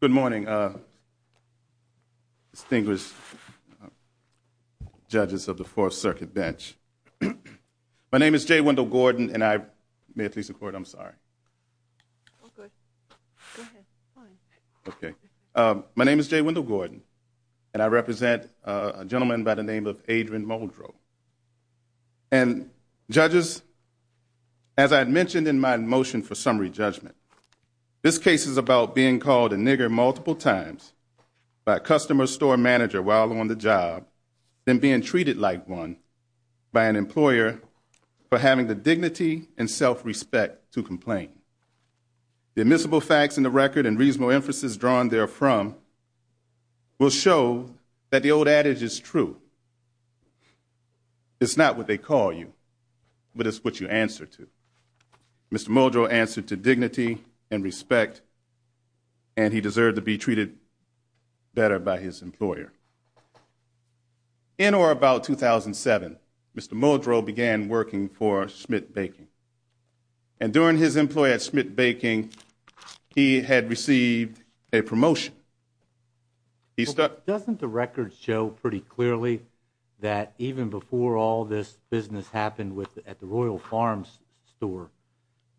Good morning, distinguished judges of the 4th Circuit Bench. My name is J. Wendell Gordon, and I represent a gentleman by the name of Adrian Muldrow. And, judges, as I mentioned in my motion for summary judgment, this case is about being called a nigger multiple times by a customer or store manager while on the job, then being treated like one by an employer for having the dignity and self-respect to complain. The admissible facts in the record and reasonable emphasis drawn therefrom will show that the old adage is true. It's not what they call you, but it's what you answer to. Mr. Muldrow answered to dignity and respect, and he deserved to be treated better by his employer. In or about 2007, Mr. Muldrow began working for Schmidt Baking. And during his employee at Schmidt Baking, he had received a promotion. Doesn't the record show pretty clearly that even before all this business happened at the Royal Farms store,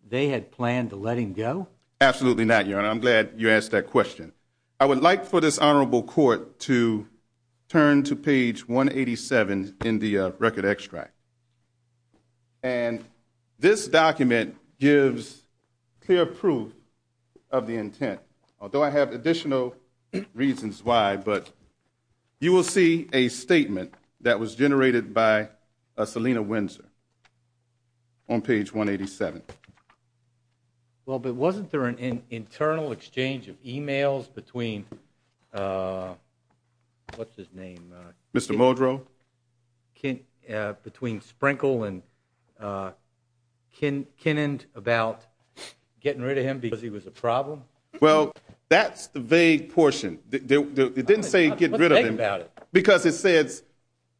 they had planned to let him go? Absolutely not, Your Honor. I'm glad you asked that question. I would like for this honorable court to turn to page 187 in the record extract. And this document gives clear proof of the intent, although I have additional reasons why, but you will see a statement that was generated by Selina Windsor on page 187. Well, but wasn't there an internal exchange of e-mails between, what's his name? Mr. Muldrow. Between Sprinkle and Kenend about getting rid of him because he was a problem? Well, that's the vague portion. It didn't say get rid of him. What's vague about it? Because it says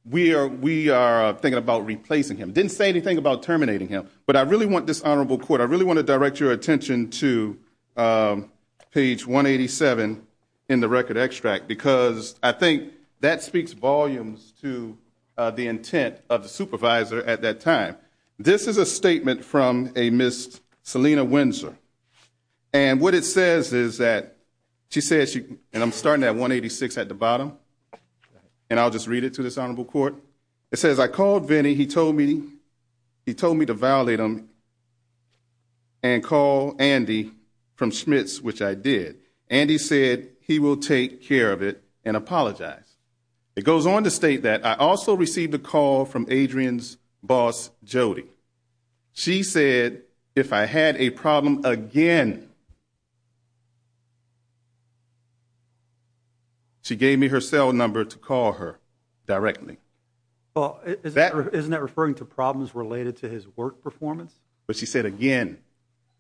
we are thinking about replacing him. It didn't say anything about terminating him. But I really want this honorable court, I really want to direct your attention to page 187 in the record extract because I think that speaks volumes to the intent of the supervisor at that time. This is a statement from a Ms. Selina Windsor. And what it says is that she says, and I'm starting at 186 at the bottom, and I'll just read it to this honorable court. It says, I called Vinnie. He told me to violate him and call Andy from Schmitz, which I did. Andy said he will take care of it and apologize. It goes on to state that I also received a call from Adrian's boss, Jody. She said if I had a problem again, she gave me her cell number to call her directly. Well, isn't that referring to problems related to his work performance? But she said again.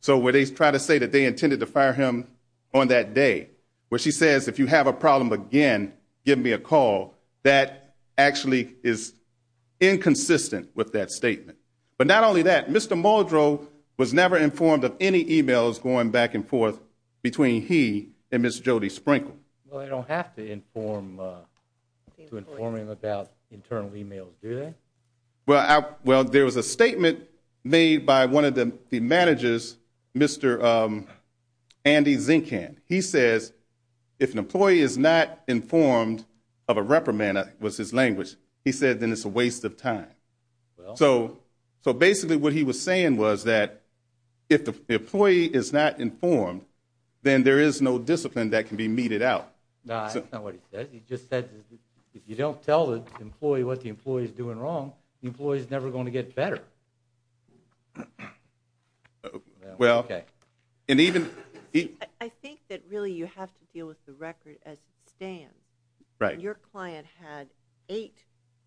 So where they try to say that they intended to fire him on that day, where she says, if you have a problem again, give me a call, that actually is inconsistent with that statement. But not only that, Mr. Muldrow was never informed of any e-mails going back and forth between he and Ms. Jody Sprinkle. Well, they don't have to inform him about internal e-mails, do they? Well, there was a statement made by one of the managers, Mr. Andy Zinkan. He says if an employee is not informed of a reprimand, was his language, he said then it's a waste of time. So basically what he was saying was that if the employee is not informed, then there is no discipline that can be meted out. No, that's not what he said. He just said if you don't tell the employee what the employee is doing wrong, the employee is never going to get better. I think that really you have to deal with the record as it stands. Your client had eight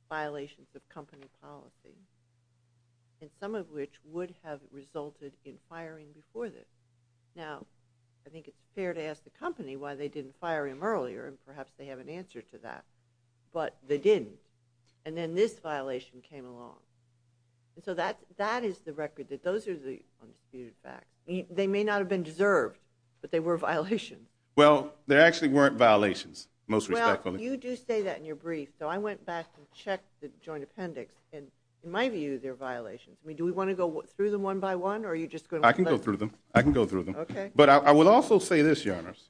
violations of company policy, and some of which would have resulted in firing before this. Now, I think it's fair to ask the company why they didn't fire him earlier, and perhaps they have an answer to that. But they didn't, and then this violation came along. So that is the record, that those are the undisputed facts. They may not have been deserved, but they were violations. Well, they actually weren't violations, most respectfully. Well, you do say that in your brief, so I went back and checked the joint appendix, and in my view, they're violations. I mean, do we want to go through them one by one, or are you just going to— I can go through them. I can go through them. Okay. But I will also say this, Your Honors,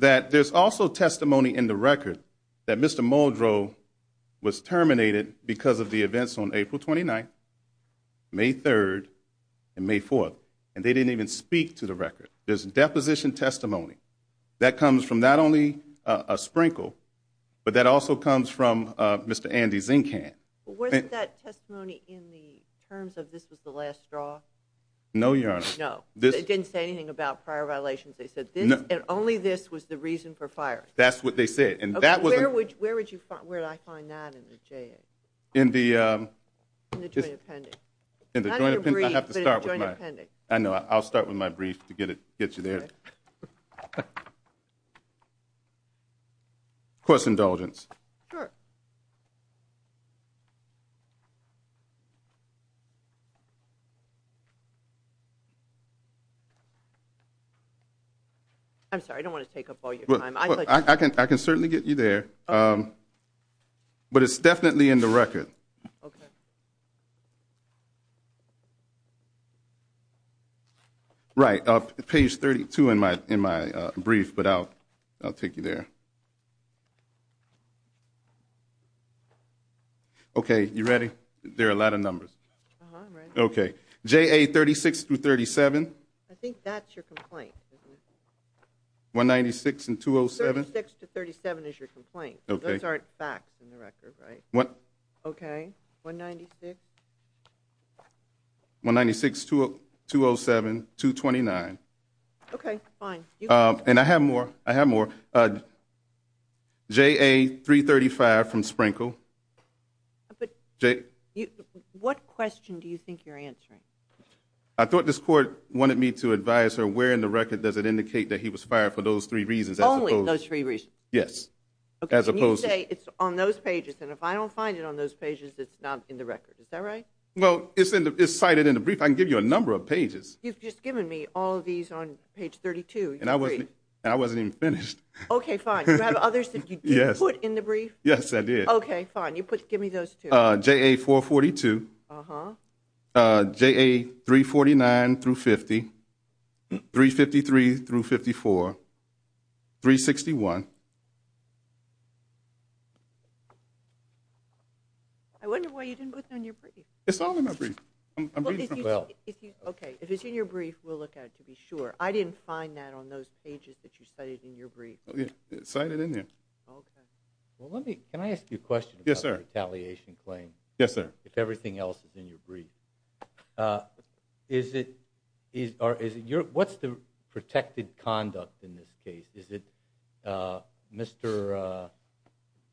that there's also testimony in the record that Mr. Muldrow was terminated because of the events on April 29th, May 3rd, and May 4th, and they didn't even speak to the record. There's deposition testimony that comes from not only a sprinkle, but that also comes from Mr. Andy Zinkan. Wasn't that testimony in the terms of this was the last straw? No, Your Honor. No. It didn't say anything about prior violations. They said only this was the reason for firing. That's what they said, and that was— Okay. Where would I find that in the JA? In the— In the joint appendix. Not in the brief, but in the joint appendix. I know. I'll start with my brief to get you there. Of course, indulgence. Sure. I'm sorry, I don't want to take up all your time. I can certainly get you there, but it's definitely in the record. Okay. Right. Page 32 in my brief, but I'll take you there. Okay. You ready? There are a lot of numbers. Uh-huh, I'm ready. Okay. JA 36 through 37? I think that's your complaint. 196 and 207? 36 to 37 is your complaint. Okay. Those aren't facts in the record, right? Okay. 196? 196, 207, 229. Okay, fine. And I have more. I have more. JA 335 from Sprinkle. What question do you think you're answering? I thought this court wanted me to advise her, where in the record does it indicate that he was fired for those three reasons? Only those three reasons? Yes, as opposed to— Well, it's cited in the brief. I can give you a number of pages. You've just given me all of these on page 32. And I wasn't even finished. Okay, fine. Do you have others that you did put in the brief? Yes, I did. Okay, fine. Give me those two. JA 442. Uh-huh. JA 349 through 50. 353 through 54. 361. I wonder why you didn't put that in your brief. It's all in my brief. I'm reading from— Well— Okay, if it's in your brief, we'll look at it to be sure. I didn't find that on those pages that you cited in your brief. Oh, yeah. It's cited in there. Okay. Well, let me—can I ask you a question— Yes, sir. —about the retaliation claim— Yes, sir. —if everything else is in your brief? Is it—or is it your—what's the protected conduct in this case? Is it Mr.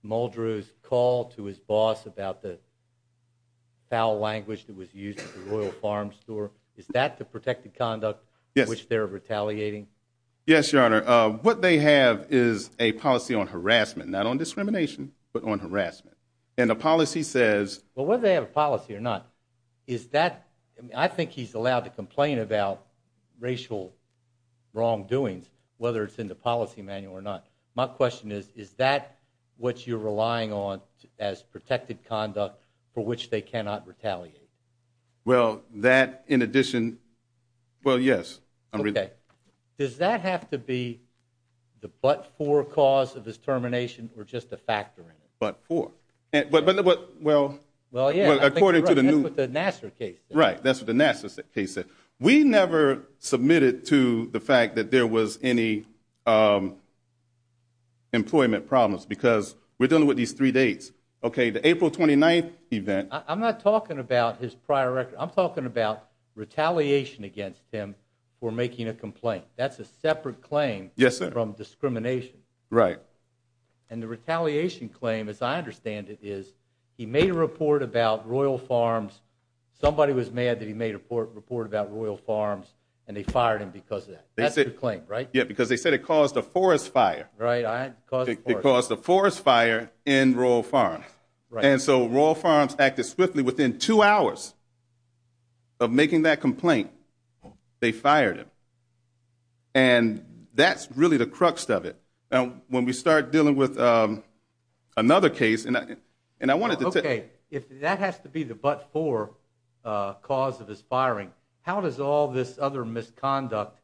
Muldrew's call to his boss about the foul language that was used at the Royal Farm Store? Is that the protected conduct in which they're retaliating? Yes, Your Honor. What they have is a policy on harassment, not on discrimination but on harassment. And the policy says— Well, whether they have a policy or not, is that— I think he's allowed to complain about racial wrongdoings, whether it's in the policy manual or not. My question is, is that what you're relying on as protected conduct for which they cannot retaliate? Well, that, in addition—well, yes. Okay. Does that have to be the but-for cause of his termination or just a factor in it? But-for. But—well, according to the new— Well, yeah, I think that's what the Nassar case said. Right. That's what the Nassar case said. We never submitted to the fact that there was any employment problems because we're dealing with these three dates. Okay, the April 29th event— I'm not talking about his prior record. I'm talking about retaliation against him for making a complaint. That's a separate claim from discrimination. Yes, sir. Right. And the retaliation claim, as I understand it, is he made a report about Royal Farms. Somebody was mad that he made a report about Royal Farms, and they fired him because of that. That's the claim, right? Yeah, because they said it caused a forest fire. Right. It caused a forest fire. It caused a forest fire in Royal Farms. Right. And so Royal Farms acted swiftly. Within two hours of making that complaint, they fired him. And that's really the crux of it. When we start dealing with another case— Okay, if that has to be the but-for cause of his firing, how does all this other misconduct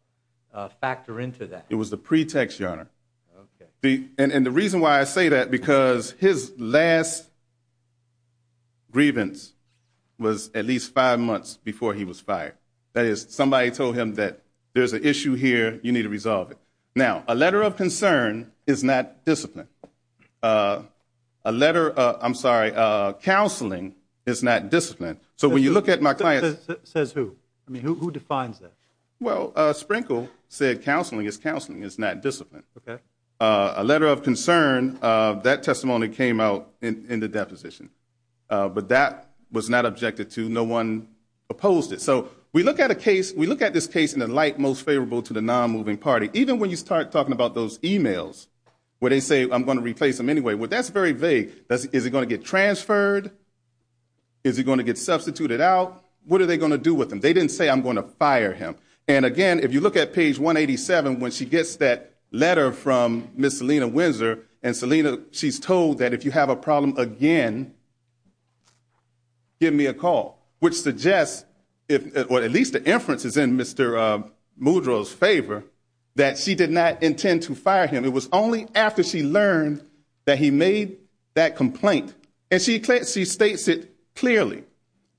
factor into that? It was the pretext, Your Honor. And the reason why I say that, because his last grievance was at least five months before he was fired. That is, somebody told him that there's an issue here, you need to resolve it. Now, a letter of concern is not discipline. A letter—I'm sorry, counseling is not discipline. So when you look at my client's— Says who? I mean, who defines that? Well, Sprinkle said counseling is counseling. It's not discipline. Okay. A letter of concern, that testimony came out in the deposition. But that was not objected to. No one opposed it. So we look at this case in the light most favorable to the non-moving party. Even when you start talking about those e-mails where they say, I'm going to replace him anyway, well, that's very vague. Is he going to get transferred? Is he going to get substituted out? What are they going to do with him? They didn't say, I'm going to fire him. And, again, if you look at page 187, when she gets that letter from Ms. Selena Windsor, and Selena, she's told that if you have a problem again, give me a call, which suggests, or at least the inference is in Mr. Muldrow's favor, that she did not intend to fire him. It was only after she learned that he made that complaint. And she states it clearly.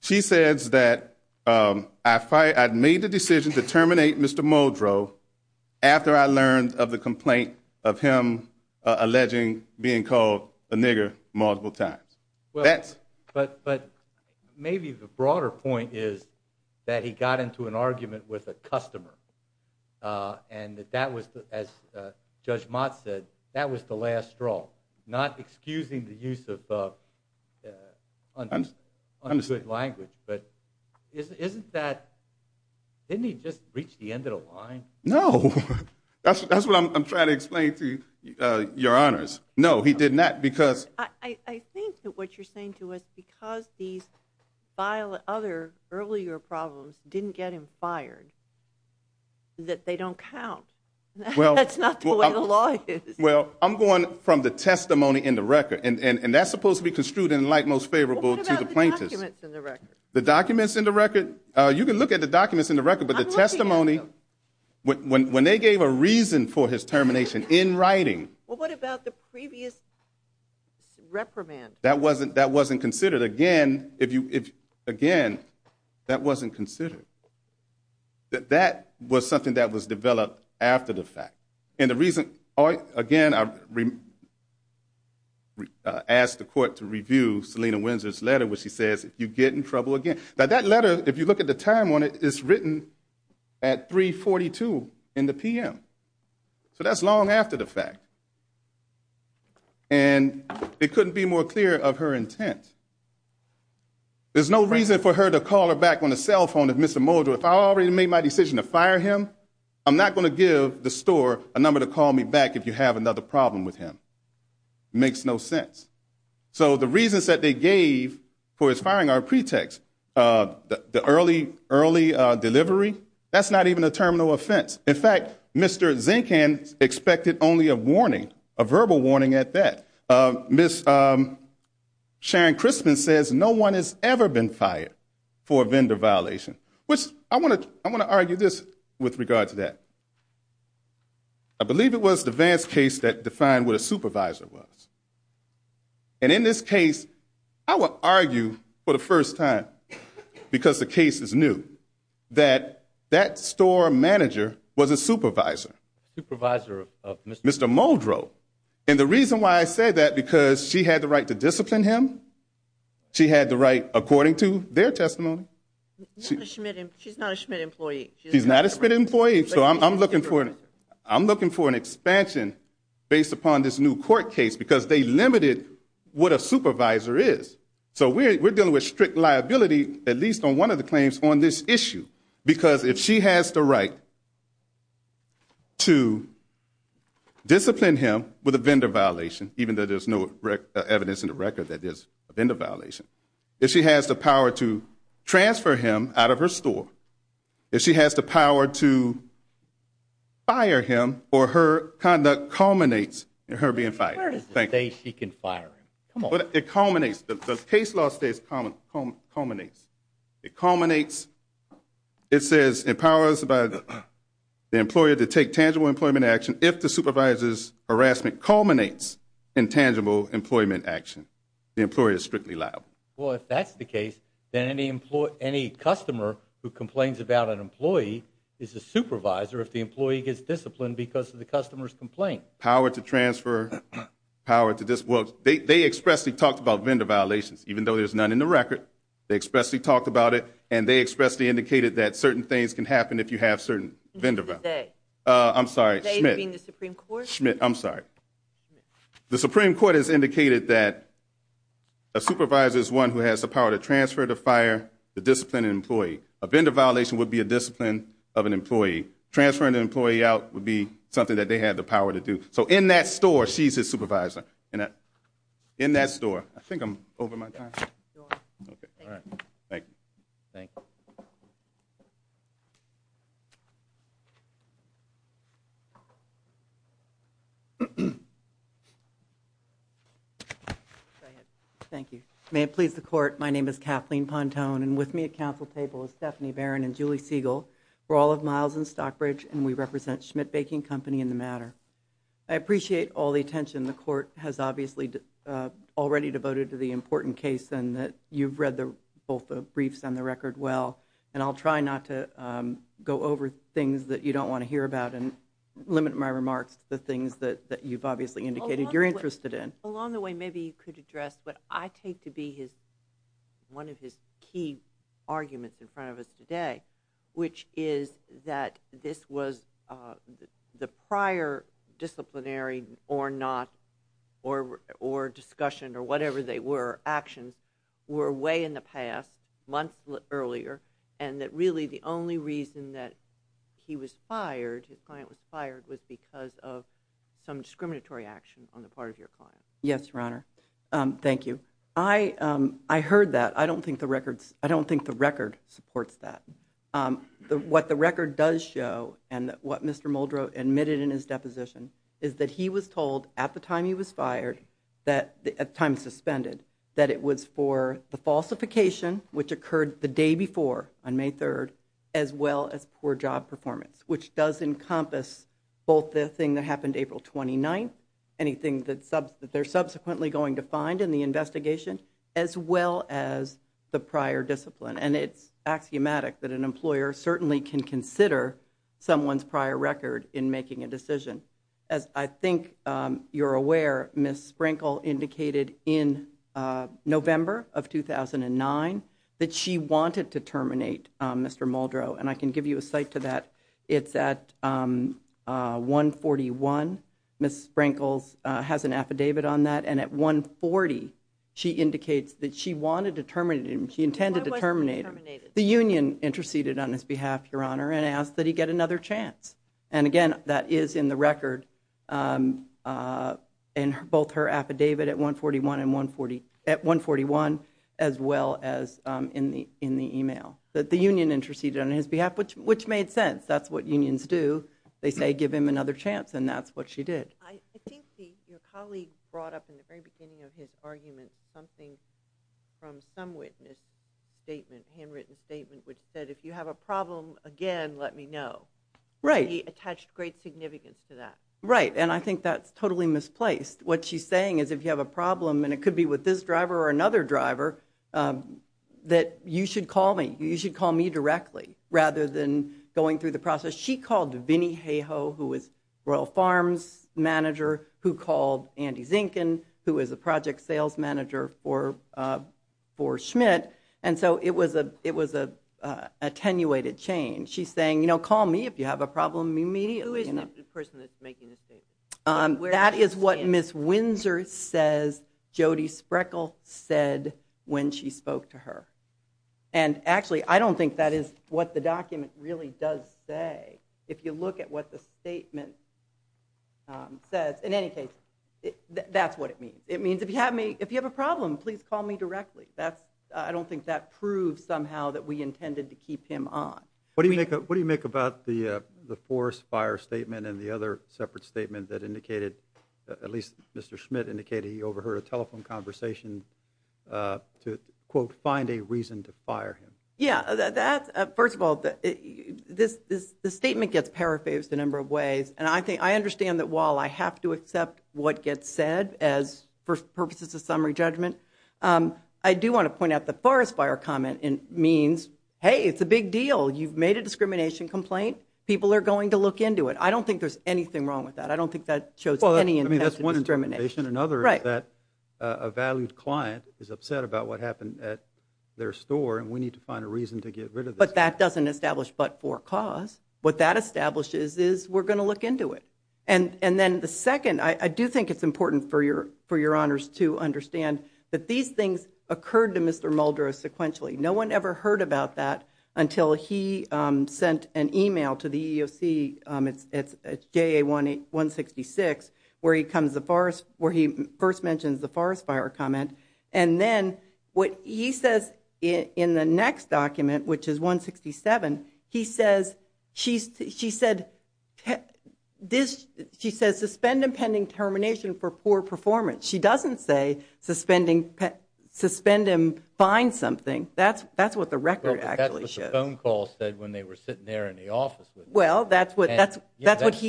She says that I made the decision to terminate Mr. Muldrow after I learned of the complaint of him alleging being called a nigger multiple times. But maybe the broader point is that he got into an argument with a customer. And that was, as Judge Mott said, that was the last straw, not excusing the use of ungood language. But isn't that, didn't he just reach the end of the line? No. That's what I'm trying to explain to your honors. No, he did not. I think that what you're saying to us, because these other earlier problems didn't get him fired, that they don't count. That's not the way the law is. Well, I'm going from the testimony in the record. And that's supposed to be construed in the light most favorable to the plaintiff. What about the documents in the record? The documents in the record? You can look at the documents in the record, but the testimony, when they gave a reason for his termination in writing. Well, what about the previous reprimand? That wasn't considered. Again, that wasn't considered. That was something that was developed after the fact. And the reason, again, I asked the court to review Selina Windsor's letter, where she says, if you get in trouble again. Now, that letter, if you look at the time on it, it's written at 3.42 in the p.m. So that's long after the fact. And it couldn't be more clear of her intent. There's no reason for her to call her back on the cell phone of Mr. Muldrow. If I already made my decision to fire him, I'm not going to give the store a number to call me back if you have another problem with him. It makes no sense. So the reasons that they gave for his firing are pretext. The early delivery, that's not even a terminal offense. In fact, Mr. Zinkan expected only a warning, a verbal warning at that. Ms. Sharon Crispin says no one has ever been fired for a vendor violation, which I want to argue this with regard to that. I believe it was the Vance case that defined what a supervisor was. And in this case, I will argue for the first time, because the case is new, that that store manager was a supervisor. Supervisor of Mr. Muldrow. And the reason why I said that, because she had the right to discipline him. She had the right, according to their testimony. She's not a Schmidt employee. She's not a Schmidt employee, so I'm looking for an expansion based upon this new court case, because they limited what a supervisor is. So we're dealing with strict liability, at least on one of the claims on this issue, because if she has the right to discipline him with a vendor violation, even though there's no evidence in the record that there's a vendor violation, if she has the power to transfer him out of her store, if she has the power to fire him or her conduct culminates in her being fired. Where does it say she can fire him? It culminates. The case law states culminates. It culminates. It says it empowers the employer to take tangible employment action if the supervisor's harassment culminates in tangible employment action. The employer is strictly liable. Well, if that's the case, then any customer who complains about an employee is a supervisor if the employee gets disciplined because of the customer's complaint. Power to transfer, power to discipline. They expressly talked about vendor violations, even though there's none in the record. They expressly talked about it, and they expressly indicated that certain things can happen if you have certain vendor violations. I'm sorry, Schmidt. Schmidt, I'm sorry. The Supreme Court has indicated that a supervisor is one who has the power to transfer, to fire, A vendor violation would be a discipline of an employee. Transferring an employee out would be something that they have the power to do. So in that store, she's a supervisor. In that store. I think I'm over my time. All right. Thank you. Thank you. Thank you. May it please the Court, my name is Kathleen Pontone, and with me at counsel table is Stephanie Barron and Julie Siegel. We're all of Miles and Stockbridge, and we represent Schmidt Baking Company in the matter. I appreciate all the attention the Court has obviously already devoted to the important case, and that you've read both the briefs and the record well, and I'll try not to go over things that you don't want to hear about and limit my remarks to the things that you've obviously indicated you're interested in. Along the way, maybe you could address what I take to be one of his key arguments in front of us today, which is that this was the prior disciplinary or not, or discussion, or whatever they were, actions were way in the past, months earlier, and that really the only reason that he was fired, his client was fired, was because of some discriminatory action on the part of your client. Yes, Your Honor. Thank you. I heard that. I don't think the record supports that. What the record does show, and what Mr. Muldrow admitted in his deposition, is that he was told at the time he was fired, at the time suspended, that it was for the falsification, which occurred the day before on May 3rd, as well as poor job performance, which does encompass both the thing that happened April 29th, and anything that they're subsequently going to find in the investigation, as well as the prior discipline. And it's axiomatic that an employer certainly can consider someone's prior record in making a decision. As I think you're aware, Ms. Sprinkle indicated in November of 2009 that she wanted to terminate Mr. Muldrow, and I can give you a cite to that. It's at 141, Ms. Sprinkle has an affidavit on that, and at 140 she indicates that she wanted to terminate him, she intended to terminate him. Why wasn't he terminated? The union interceded on his behalf, Your Honor, and asked that he get another chance. And again, that is in the record, in both her affidavit at 141, as well as in the email. That the union interceded on his behalf, which made sense. That's what unions do. They say, give him another chance, and that's what she did. I think your colleague brought up in the very beginning of his argument something from some witness statement, handwritten statement, which said, if you have a problem again, let me know. Right. And he attached great significance to that. Right, and I think that's totally misplaced. What she's saying is if you have a problem, and it could be with this driver or another driver, that you should call me. You should call me directly, rather than going through the process. She called Vinnie Hayhoe, who was Royal Farms' manager, who called Andy Zinkin, who was a project sales manager for Schmidt, and so it was an attenuated chain. She's saying, you know, call me if you have a problem immediately. Who is the person that's making the statement? That is what Ms. Windsor says Jody Spreckel said when she spoke to her. And actually, I don't think that is what the document really does say. If you look at what the statement says. In any case, that's what it means. It means if you have a problem, please call me directly. I don't think that proves somehow that we intended to keep him on. What do you make about the forest fire statement and the other separate statement that indicated, at least Mr. Schmidt indicated he overheard a telephone conversation to, quote, find a reason to fire him? Yeah, first of all, the statement gets paraphrased a number of ways, and I understand that while I have to accept what gets said for purposes of summary judgment, I do want to point out the forest fire comment means, hey, it's a big deal. You've made a discrimination complaint. People are going to look into it. I don't think there's anything wrong with that. I don't think that shows any intent to discriminate. Well, I mean, that's one interpretation. Another is that a valued client is upset about what happened at their store, and we need to find a reason to get rid of this. But that doesn't establish but for cause. What that establishes is we're going to look into it. And then the second, I do think it's important for your honors to understand that these things occurred to Mr. Muldrow sequentially. No one ever heard about that until he sent an e-mail to the EEOC, it's JA-166, where he first mentions the forest fire comment, and then what he says in the next document, which is 167, he says she said suspend impending termination for poor performance. She doesn't say suspend him, find something. That's what the record actually shows. That's what the phone call said when they were sitting there in the office. Well, that's what he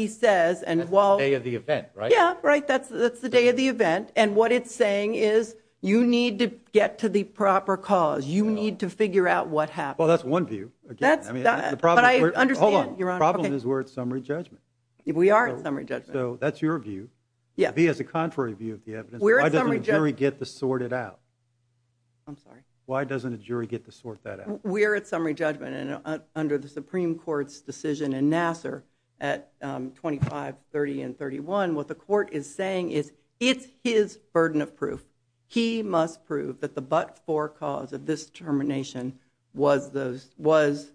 says. That's the day of the event, right? Yeah, right. That's the day of the event. And what it's saying is you need to get to the proper cause. You need to figure out what happened. Well, that's one view. But I understand, Your Honor. The problem is we're at summary judgment. We are at summary judgment. So that's your view. Yes. To be as a contrary view of the evidence, why doesn't a jury get to sort it out? I'm sorry? Why doesn't a jury get to sort that out? We are at summary judgment, and under the Supreme Court's decision in Nassar at 25, 30, and 31, what the court is saying is it's his burden of proof. He must prove that the but-for cause of this termination was the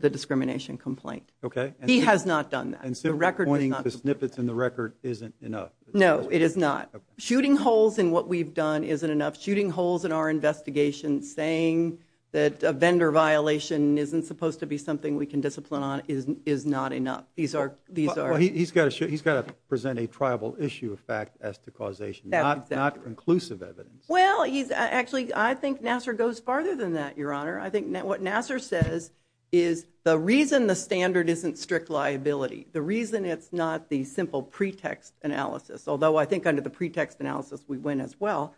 discrimination complaint. Okay. He has not done that. And simply pointing to snippets in the record isn't enough. No, it is not. Shooting holes in what we've done isn't enough. Shooting holes in our investigation saying that a vendor violation isn't supposed to be something we can discipline on is not enough. He's got to present a tribal issue of fact as to causation. Not inclusive evidence. Well, actually, I think Nassar goes farther than that, Your Honor. I think what Nassar says is the reason the standard isn't strict liability, the reason it's not the simple pretext analysis, although I think under the pretext analysis we win as well,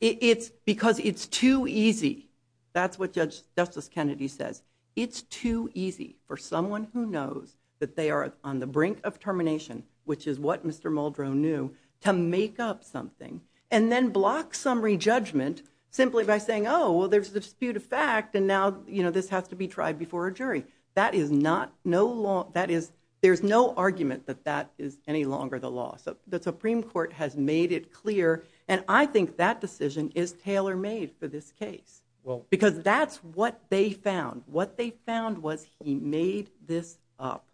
it's because it's too easy. That's what Justice Kennedy says. It's too easy for someone who knows that they are on the brink of termination, which is what Mr. Muldrow knew, to make up something and then block summary judgment simply by saying, oh, well, there's a dispute of fact, and now, you know, this has to be tried before a jury. That is not no law. There's no argument that that is any longer the law. The Supreme Court has made it clear, and I think that decision is tailor-made for this case. Well. Because that's what they found. What they found was he made this up.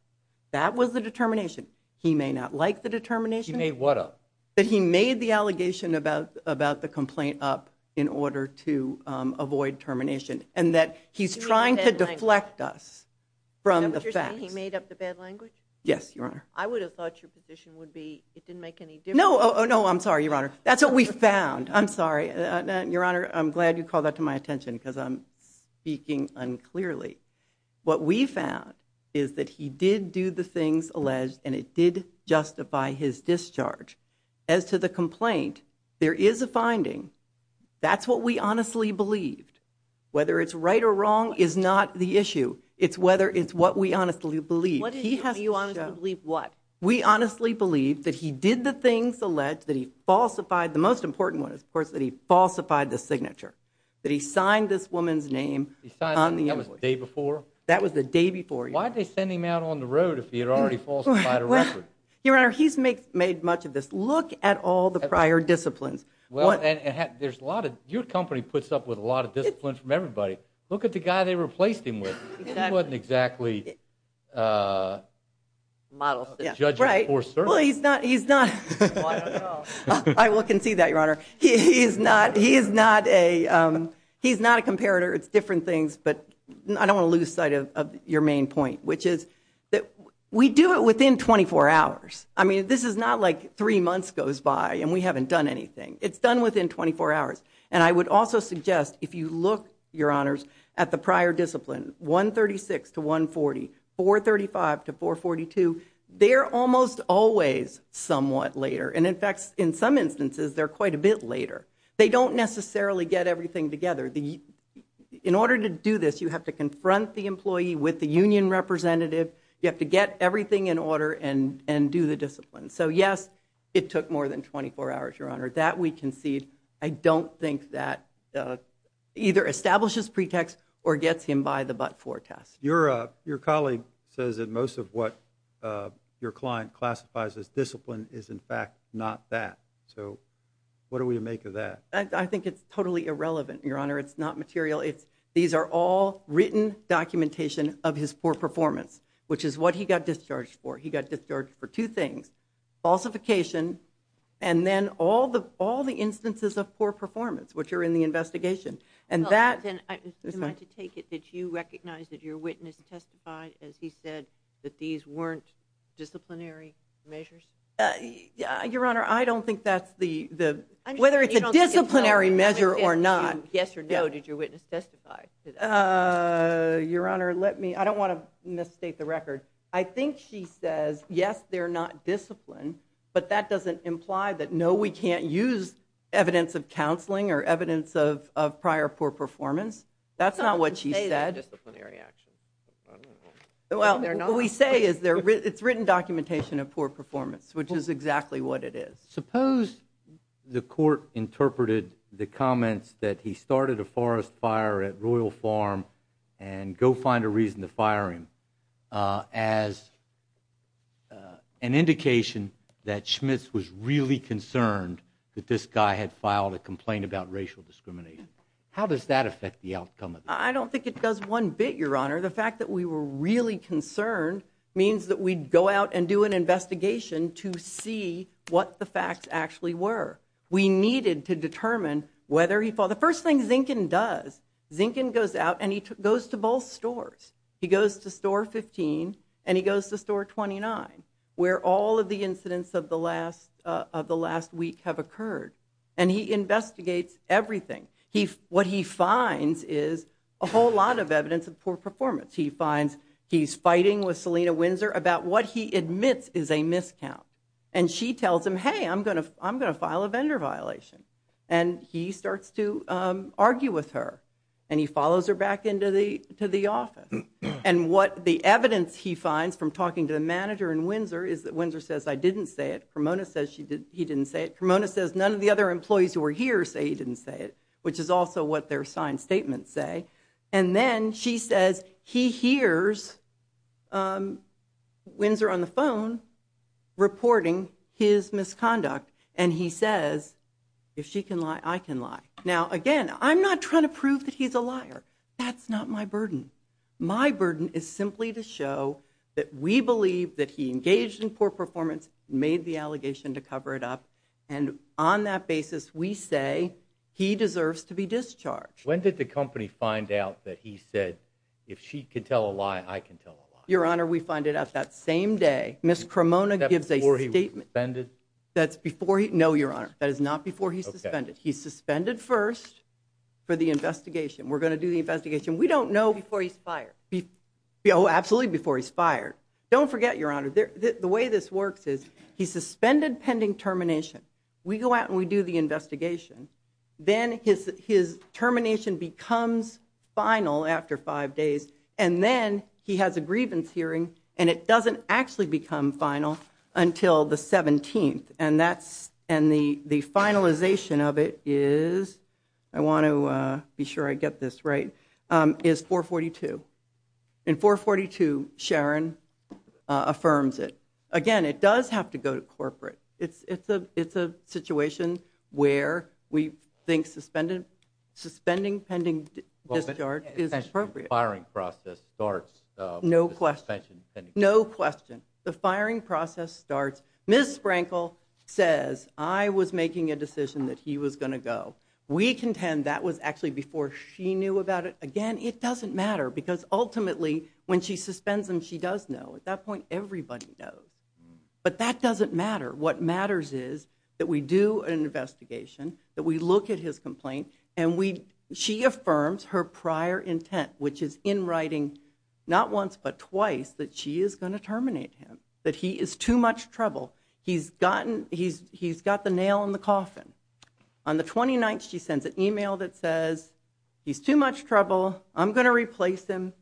That was the determination. He may not like the determination. He made what up? That he made the allegation about the complaint up in order to avoid termination, and that he's trying to deflect us from the facts. You're saying he made up the bad language? Yes, Your Honor. I would have thought your position would be it didn't make any difference. No, no, I'm sorry, Your Honor. That's what we found. I'm sorry. Your Honor, I'm glad you called that to my attention because I'm speaking unclearly. What we found is that he did do the things alleged, and it did justify his discharge. As to the complaint, there is a finding. That's what we honestly believed. Whether it's right or wrong is not the issue. It's whether it's what we honestly believed. What did you honestly believe? We honestly believed that he did the things alleged, that he falsified. The most important one is, of course, that he falsified the signature, that he signed this woman's name on the invoice. That was the day before? That was the day before, Your Honor. Why did they send him out on the road if he had already falsified a record? Your Honor, he's made much of this. Look at all the prior disciplines. Your company puts up with a lot of discipline from everybody. Look at the guy they replaced him with. He wasn't exactly a judge of course, sir. Well, he's not. I don't know. I will concede that, Your Honor. He is not a comparator. It's different things, but I don't want to lose sight of your main point, which is that we do it within 24 hours. I mean, this is not like three months goes by and we haven't done anything. It's done within 24 hours. And I would also suggest, if you look, Your Honors, at the prior discipline, 136 to 140, 435 to 442, they're almost always somewhat later. And, in fact, in some instances, they're quite a bit later. They don't necessarily get everything together. In order to do this, you have to confront the employee with the union representative. You have to get everything in order and do the discipline. So, yes, it took more than 24 hours, Your Honor. That we concede. I don't think that either establishes pretext or gets him by the but-for test. Your colleague says that most of what your client classifies as discipline is, in fact, not that. So what do we make of that? I think it's totally irrelevant, Your Honor. It's not material. These are all written documentation of his poor performance, which is what he got discharged for. He got discharged for two things, falsification and then all the instances of poor performance, which are in the investigation. And that – I'm going to take it that you recognize that your witness testified, as he said, that these weren't disciplinary measures? Your Honor, I don't think that's the – whether it's a disciplinary measure or not. Yes or no, did your witness testify to that? Your Honor, let me – I don't want to misstate the record. I think she says, yes, they're not discipline, but that doesn't imply that, no, we can't use evidence of counseling or evidence of prior poor performance. That's not what she said. I don't want to say they're disciplinary actions. Well, what we say is it's written documentation of poor performance, which is exactly what it is. Suppose the court interpreted the comments that he started a forest fire at Royal Farm and go find a reason to fire him as an indication that Schmitz was really concerned that this guy had filed a complaint about racial discrimination. How does that affect the outcome of this? I don't think it does one bit, Your Honor. The fact that we were really concerned means that we'd go out and do an investigation to see what the facts actually were. We needed to determine whether he filed. The first thing Zinkin does, Zinkin goes out and he goes to both stores. He goes to store 15 and he goes to store 29, where all of the incidents of the last week have occurred. And he investigates everything. What he finds is a whole lot of evidence of poor performance. He finds he's fighting with Selina Windsor about what he admits is a miscount. And she tells him, hey, I'm going to file a vendor violation. And he starts to argue with her, and he follows her back into the office. And what the evidence he finds from talking to the manager in Windsor is that Windsor says, I didn't say it. Cremona says he didn't say it. Cremona says none of the other employees who were here say he didn't say it, which is also what their signed statements say. And then she says he hears Windsor on the phone reporting his misconduct, and he says, if she can lie, I can lie. Now, again, I'm not trying to prove that he's a liar. That's not my burden. My burden is simply to show that we believe that he engaged in poor performance, made the allegation to cover it up, and on that basis we say he deserves to be discharged. When did the company find out that he said, if she can tell a lie, I can tell a lie? Your Honor, we find it out that same day. Ms. Cremona gives a statement. That's before he was suspended? No, Your Honor. That is not before he's suspended. He's suspended first for the investigation. We're going to do the investigation. We don't know before he's fired. Oh, absolutely before he's fired. Don't forget, Your Honor, the way this works is he's suspended pending termination. We go out and we do the investigation. Then his termination becomes final after five days, and then he has a grievance hearing, and it doesn't actually become final until the 17th, and the finalization of it is, I want to be sure I get this right, is 442. In 442, Sharon affirms it. It's a situation where we think suspending pending discharge is appropriate. The firing process starts. No question. No question. The firing process starts. Ms. Sprankle says, I was making a decision that he was going to go. We contend that was actually before she knew about it. Again, it doesn't matter because, ultimately, when she suspends him, she does know. At that point, everybody knows. But that doesn't matter. What matters is that we do an investigation, that we look at his complaint, and she affirms her prior intent, which is in writing, not once but twice, that she is going to terminate him, that he is too much trouble. He's got the nail in the coffin. On the 29th, she sends an email that says, he's too much trouble, I'm going to replace him,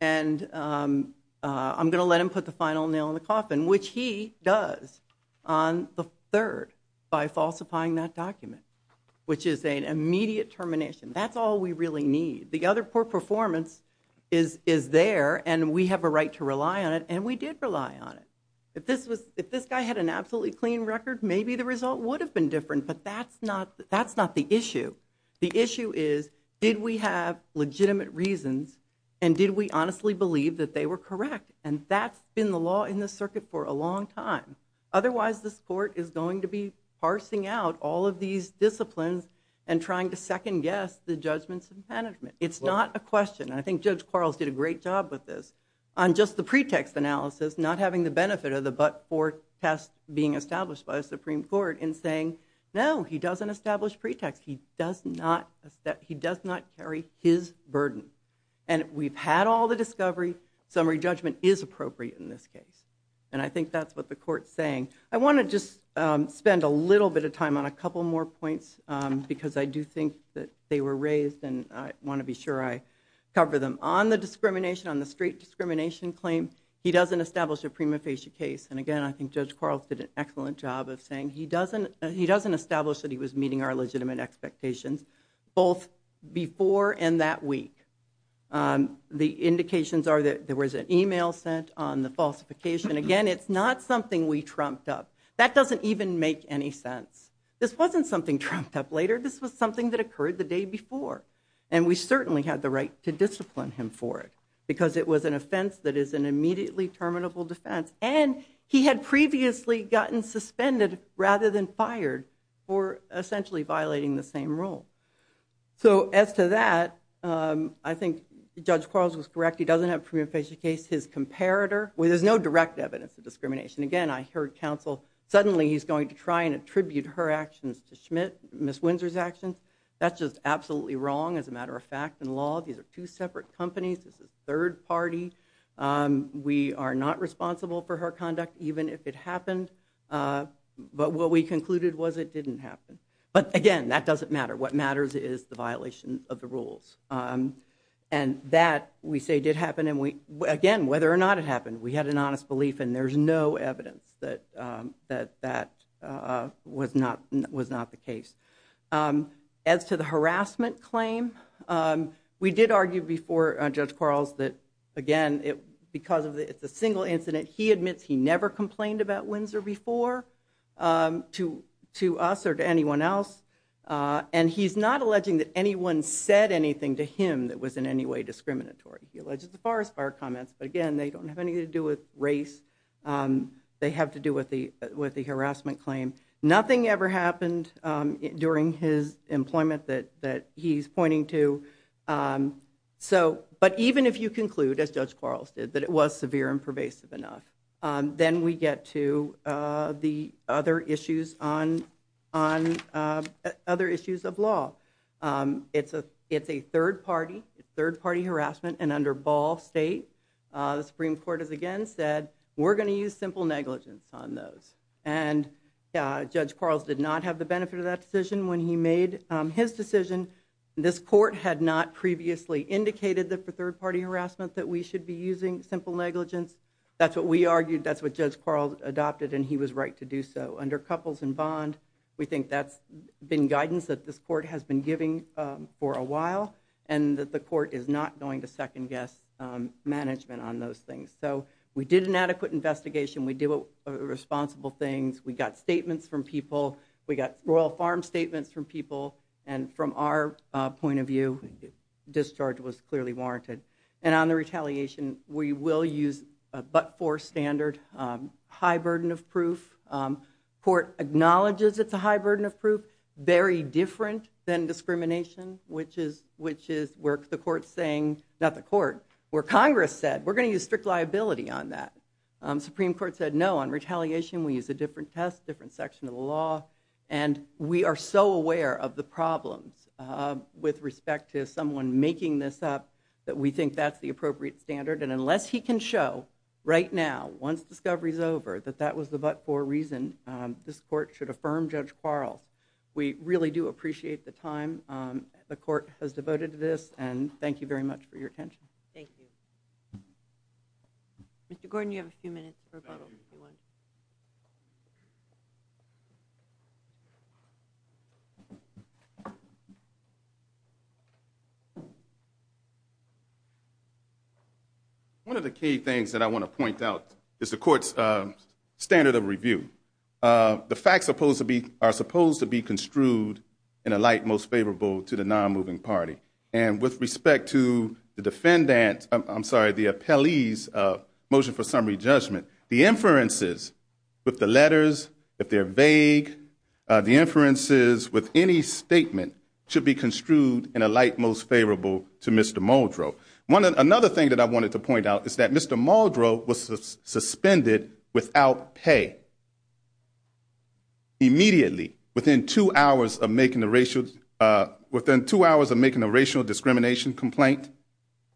and I'm going to let him put the final nail in the coffin, which he does on the 3rd by falsifying that document, which is an immediate termination. That's all we really need. The other poor performance is there, and we have a right to rely on it, and we did rely on it. If this guy had an absolutely clean record, maybe the result would have been different, but that's not the issue. The issue is, did we have legitimate reasons, and did we honestly believe that they were correct? And that's been the law in this circuit for a long time. Otherwise, this court is going to be parsing out all of these disciplines and trying to second-guess the judgments and punishment. It's not a question, and I think Judge Quarles did a great job with this, on just the pretext analysis, not having the benefit of the but-for test being established by the Supreme Court in saying, no, he doesn't establish pretext, he does not carry his burden. And we've had all the discovery, summary judgment is appropriate in this case. And I think that's what the court's saying. I want to just spend a little bit of time on a couple more points, because I do think that they were raised, and I want to be sure I cover them. On the discrimination, on the straight discrimination claim, he doesn't establish a prima facie case. And again, I think Judge Quarles did an excellent job of saying, he doesn't establish that he was meeting our legitimate expectations, both before and that week. The indications are that there was an e-mail sent on the falsification. Again, it's not something we trumped up. That doesn't even make any sense. This wasn't something trumped up later. This was something that occurred the day before. And we certainly had the right to discipline him for it, because it was an offense that is an immediately terminable defense. And he had previously gotten suspended rather than fired for essentially violating the same rule. So, as to that, I think Judge Quarles was correct. He doesn't have a prima facie case. His comparator, well, there's no direct evidence of discrimination. Again, I heard counsel, suddenly he's going to try and attribute her actions to Schmidt, Ms. Windsor's actions. That's just absolutely wrong, as a matter of fact, in law. These are two separate companies. This is third party. We are not responsible for her conduct, even if it happened. But what we concluded was it didn't happen. But, again, that doesn't matter. What matters is the violation of the rules. And that, we say, did happen. And, again, whether or not it happened, we had an honest belief, and there's no evidence that that was not the case. As to the harassment claim, we did argue before Judge Quarles that, again, because it's a single incident, he admits he never complained about Windsor before to us or to anyone else. And he's not alleging that anyone said anything to him that was in any way discriminatory. He alleges the Forest Fire comments, but, again, they don't have anything to do with race. They have to do with the harassment claim. Nothing ever happened during his employment that he's pointing to. But even if you conclude, as Judge Quarles did, that it was severe and pervasive enough, then we get to the other issues of law. It's a third-party harassment, and under Ball State, the Supreme Court has, again, said, we're going to use simple negligence on those. And Judge Quarles did not have the benefit of that decision when he made his decision. This court had not previously indicated that, for third-party harassment, that we should be using simple negligence. That's what we argued. That's what Judge Quarles adopted, and he was right to do so. Under couples and bond, we think that's been guidance that this court has been giving for a while and that the court is not going to second-guess management on those things. So we did an adequate investigation. We did responsible things. We got statements from people. We got Royal Farm statements from people, and from our point of view, discharge was clearly warranted. And on the retaliation, we will use a but-for standard high burden of proof. Court acknowledges it's a high burden of proof, very different than discrimination, which is where the court's saying, not the court, where Congress said, we're going to use strict liability on that. Supreme Court said, no, on retaliation, we use a different test, different section of the law, and we are so aware of the problems with respect to someone making this up that we think that's the appropriate standard, and unless he can show right now, once discovery's over, that that was the but-for reason, this court should affirm Judge Quarles. We really do appreciate the time the court has devoted to this, and thank you very much for your attention. Thank you. Mr. Gordon, you have a few minutes for rebuttal, if you want. One of the key things that I want to point out is the court's standard of review. The facts are supposed to be construed in a light most favorable to the non-moving party, and with respect to the defendant's, I'm sorry, the appellee's motion for summary judgment, are that the non-moving party with the letters, if they're vague, the inferences with any statement should be construed in a light most favorable to Mr. Muldrow. Another thing that I wanted to point out is that Mr. Muldrow was suspended without pay. Immediately, within two hours of making a racial discrimination complaint,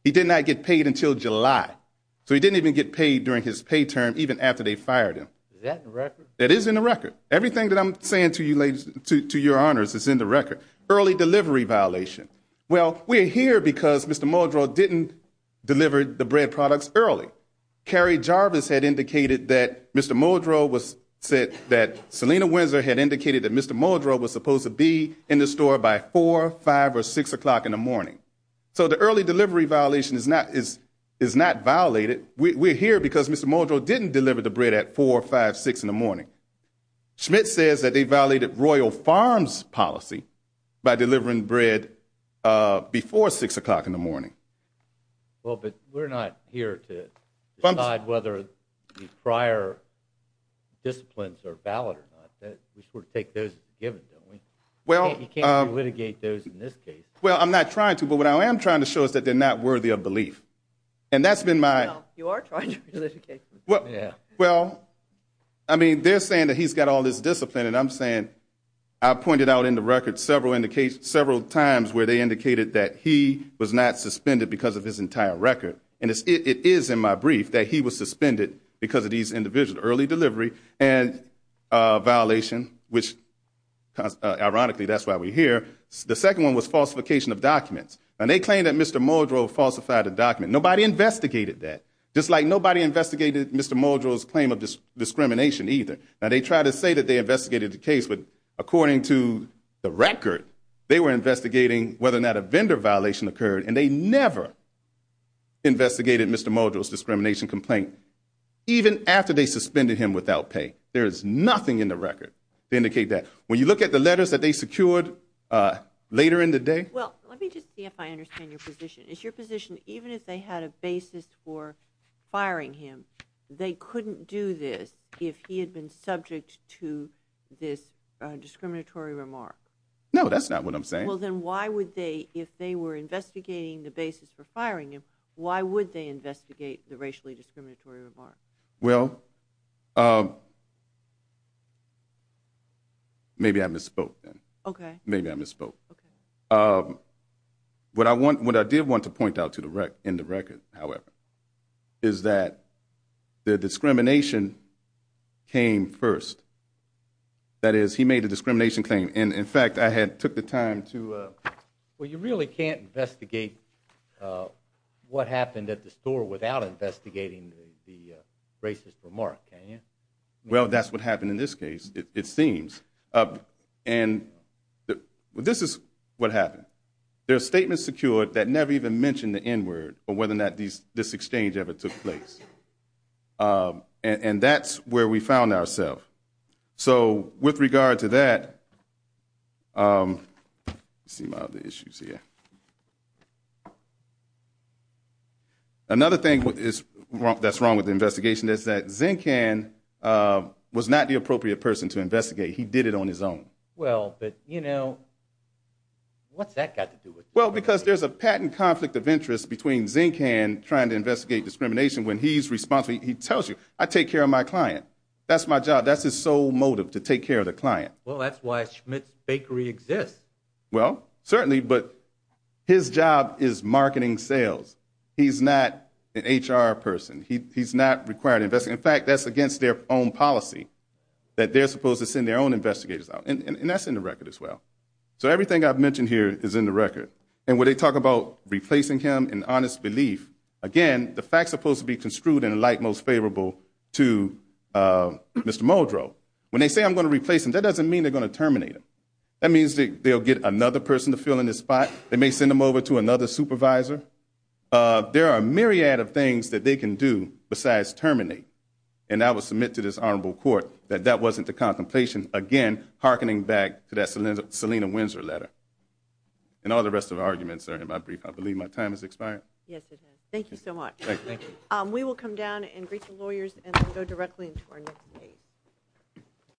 he did not get paid until July. So he didn't even get paid during his pay term, even after they fired him. Is that in the record? That is in the record. Everything that I'm saying to your honors is in the record. Early delivery violation. Well, we're here because Mr. Muldrow didn't deliver the bread products early. Carrie Jarvis had indicated that Mr. Muldrow was supposed to be in the store by 4, 5, or 6 o'clock in the morning. So the early delivery violation is not violated. We're here because Mr. Muldrow didn't deliver the bread at 4, 5, or 6 in the morning. Schmidt says that they violated Royal Farms policy by delivering bread before 6 o'clock in the morning. Well, but we're not here to decide whether the prior disciplines are valid or not. We sort of take those as given, don't we? You can't re-litigate those in this case. Well, I'm not trying to, but what I am trying to show is that they're not worthy of belief. You are trying to re-litigate them. Well, I mean, they're saying that he's got all this discipline, and I'm saying I pointed out in the record several times where they indicated that he was not suspended because of his entire record. And it is in my brief that he was suspended because of these individuals, early delivery and violation, which ironically that's why we're here. The second one was falsification of documents. Now, they claim that Mr. Muldrow falsified a document. Nobody investigated that, just like nobody investigated Mr. Muldrow's claim of discrimination either. Now, they tried to say that they investigated the case, but according to the record, they were investigating whether or not a vendor violation occurred, and they never investigated Mr. Muldrow's discrimination complaint, even after they suspended him without pay. There is nothing in the record to indicate that. When you look at the letters that they secured later in the day— Well, let me just see if I understand your position. Is your position even if they had a basis for firing him, they couldn't do this if he had been subject to this discriminatory remark? No, that's not what I'm saying. Well, then why would they, if they were investigating the basis for firing him, why would they investigate the racially discriminatory remark? Well, maybe I misspoke then. Okay. Maybe I misspoke. Okay. What I did want to point out in the record, however, is that the discrimination came first. That is, he made a discrimination claim, and, in fact, I had took the time to— Well, that's what happened in this case, it seems. And this is what happened. There are statements secured that never even mentioned the N-word or whether or not this exchange ever took place. And that's where we found ourselves. So with regard to that—let me see my other issues here. Another thing that's wrong with the investigation is that Zinkan was not the appropriate person to investigate. He did it on his own. Well, but, you know, what's that got to do with it? Well, because there's a patent conflict of interest between Zinkan trying to investigate discrimination when he's responsible. He tells you, I take care of my client. That's my job. That's his sole motive, to take care of the client. Well, that's why Schmidt's Bakery exists. Well, certainly, but his job is marketing sales. He's not an HR person. He's not required to investigate. In fact, that's against their own policy that they're supposed to send their own investigators out, and that's in the record as well. So everything I've mentioned here is in the record. And when they talk about replacing him in honest belief, again, the fact's supposed to be construed in a light most favorable to Mr. Muldrow. When they say, I'm going to replace him, that doesn't mean they're going to terminate him. That means they'll get another person to fill in his spot. They may send him over to another supervisor. There are a myriad of things that they can do besides terminate. And I will submit to this honorable court that that wasn't the contemplation, again, hearkening back to that Selina Windsor letter. And all the rest of the arguments are in my brief. I believe my time has expired. Yes, it has. Thank you so much. Thank you. We will come down and greet the lawyers and then go directly into our next case.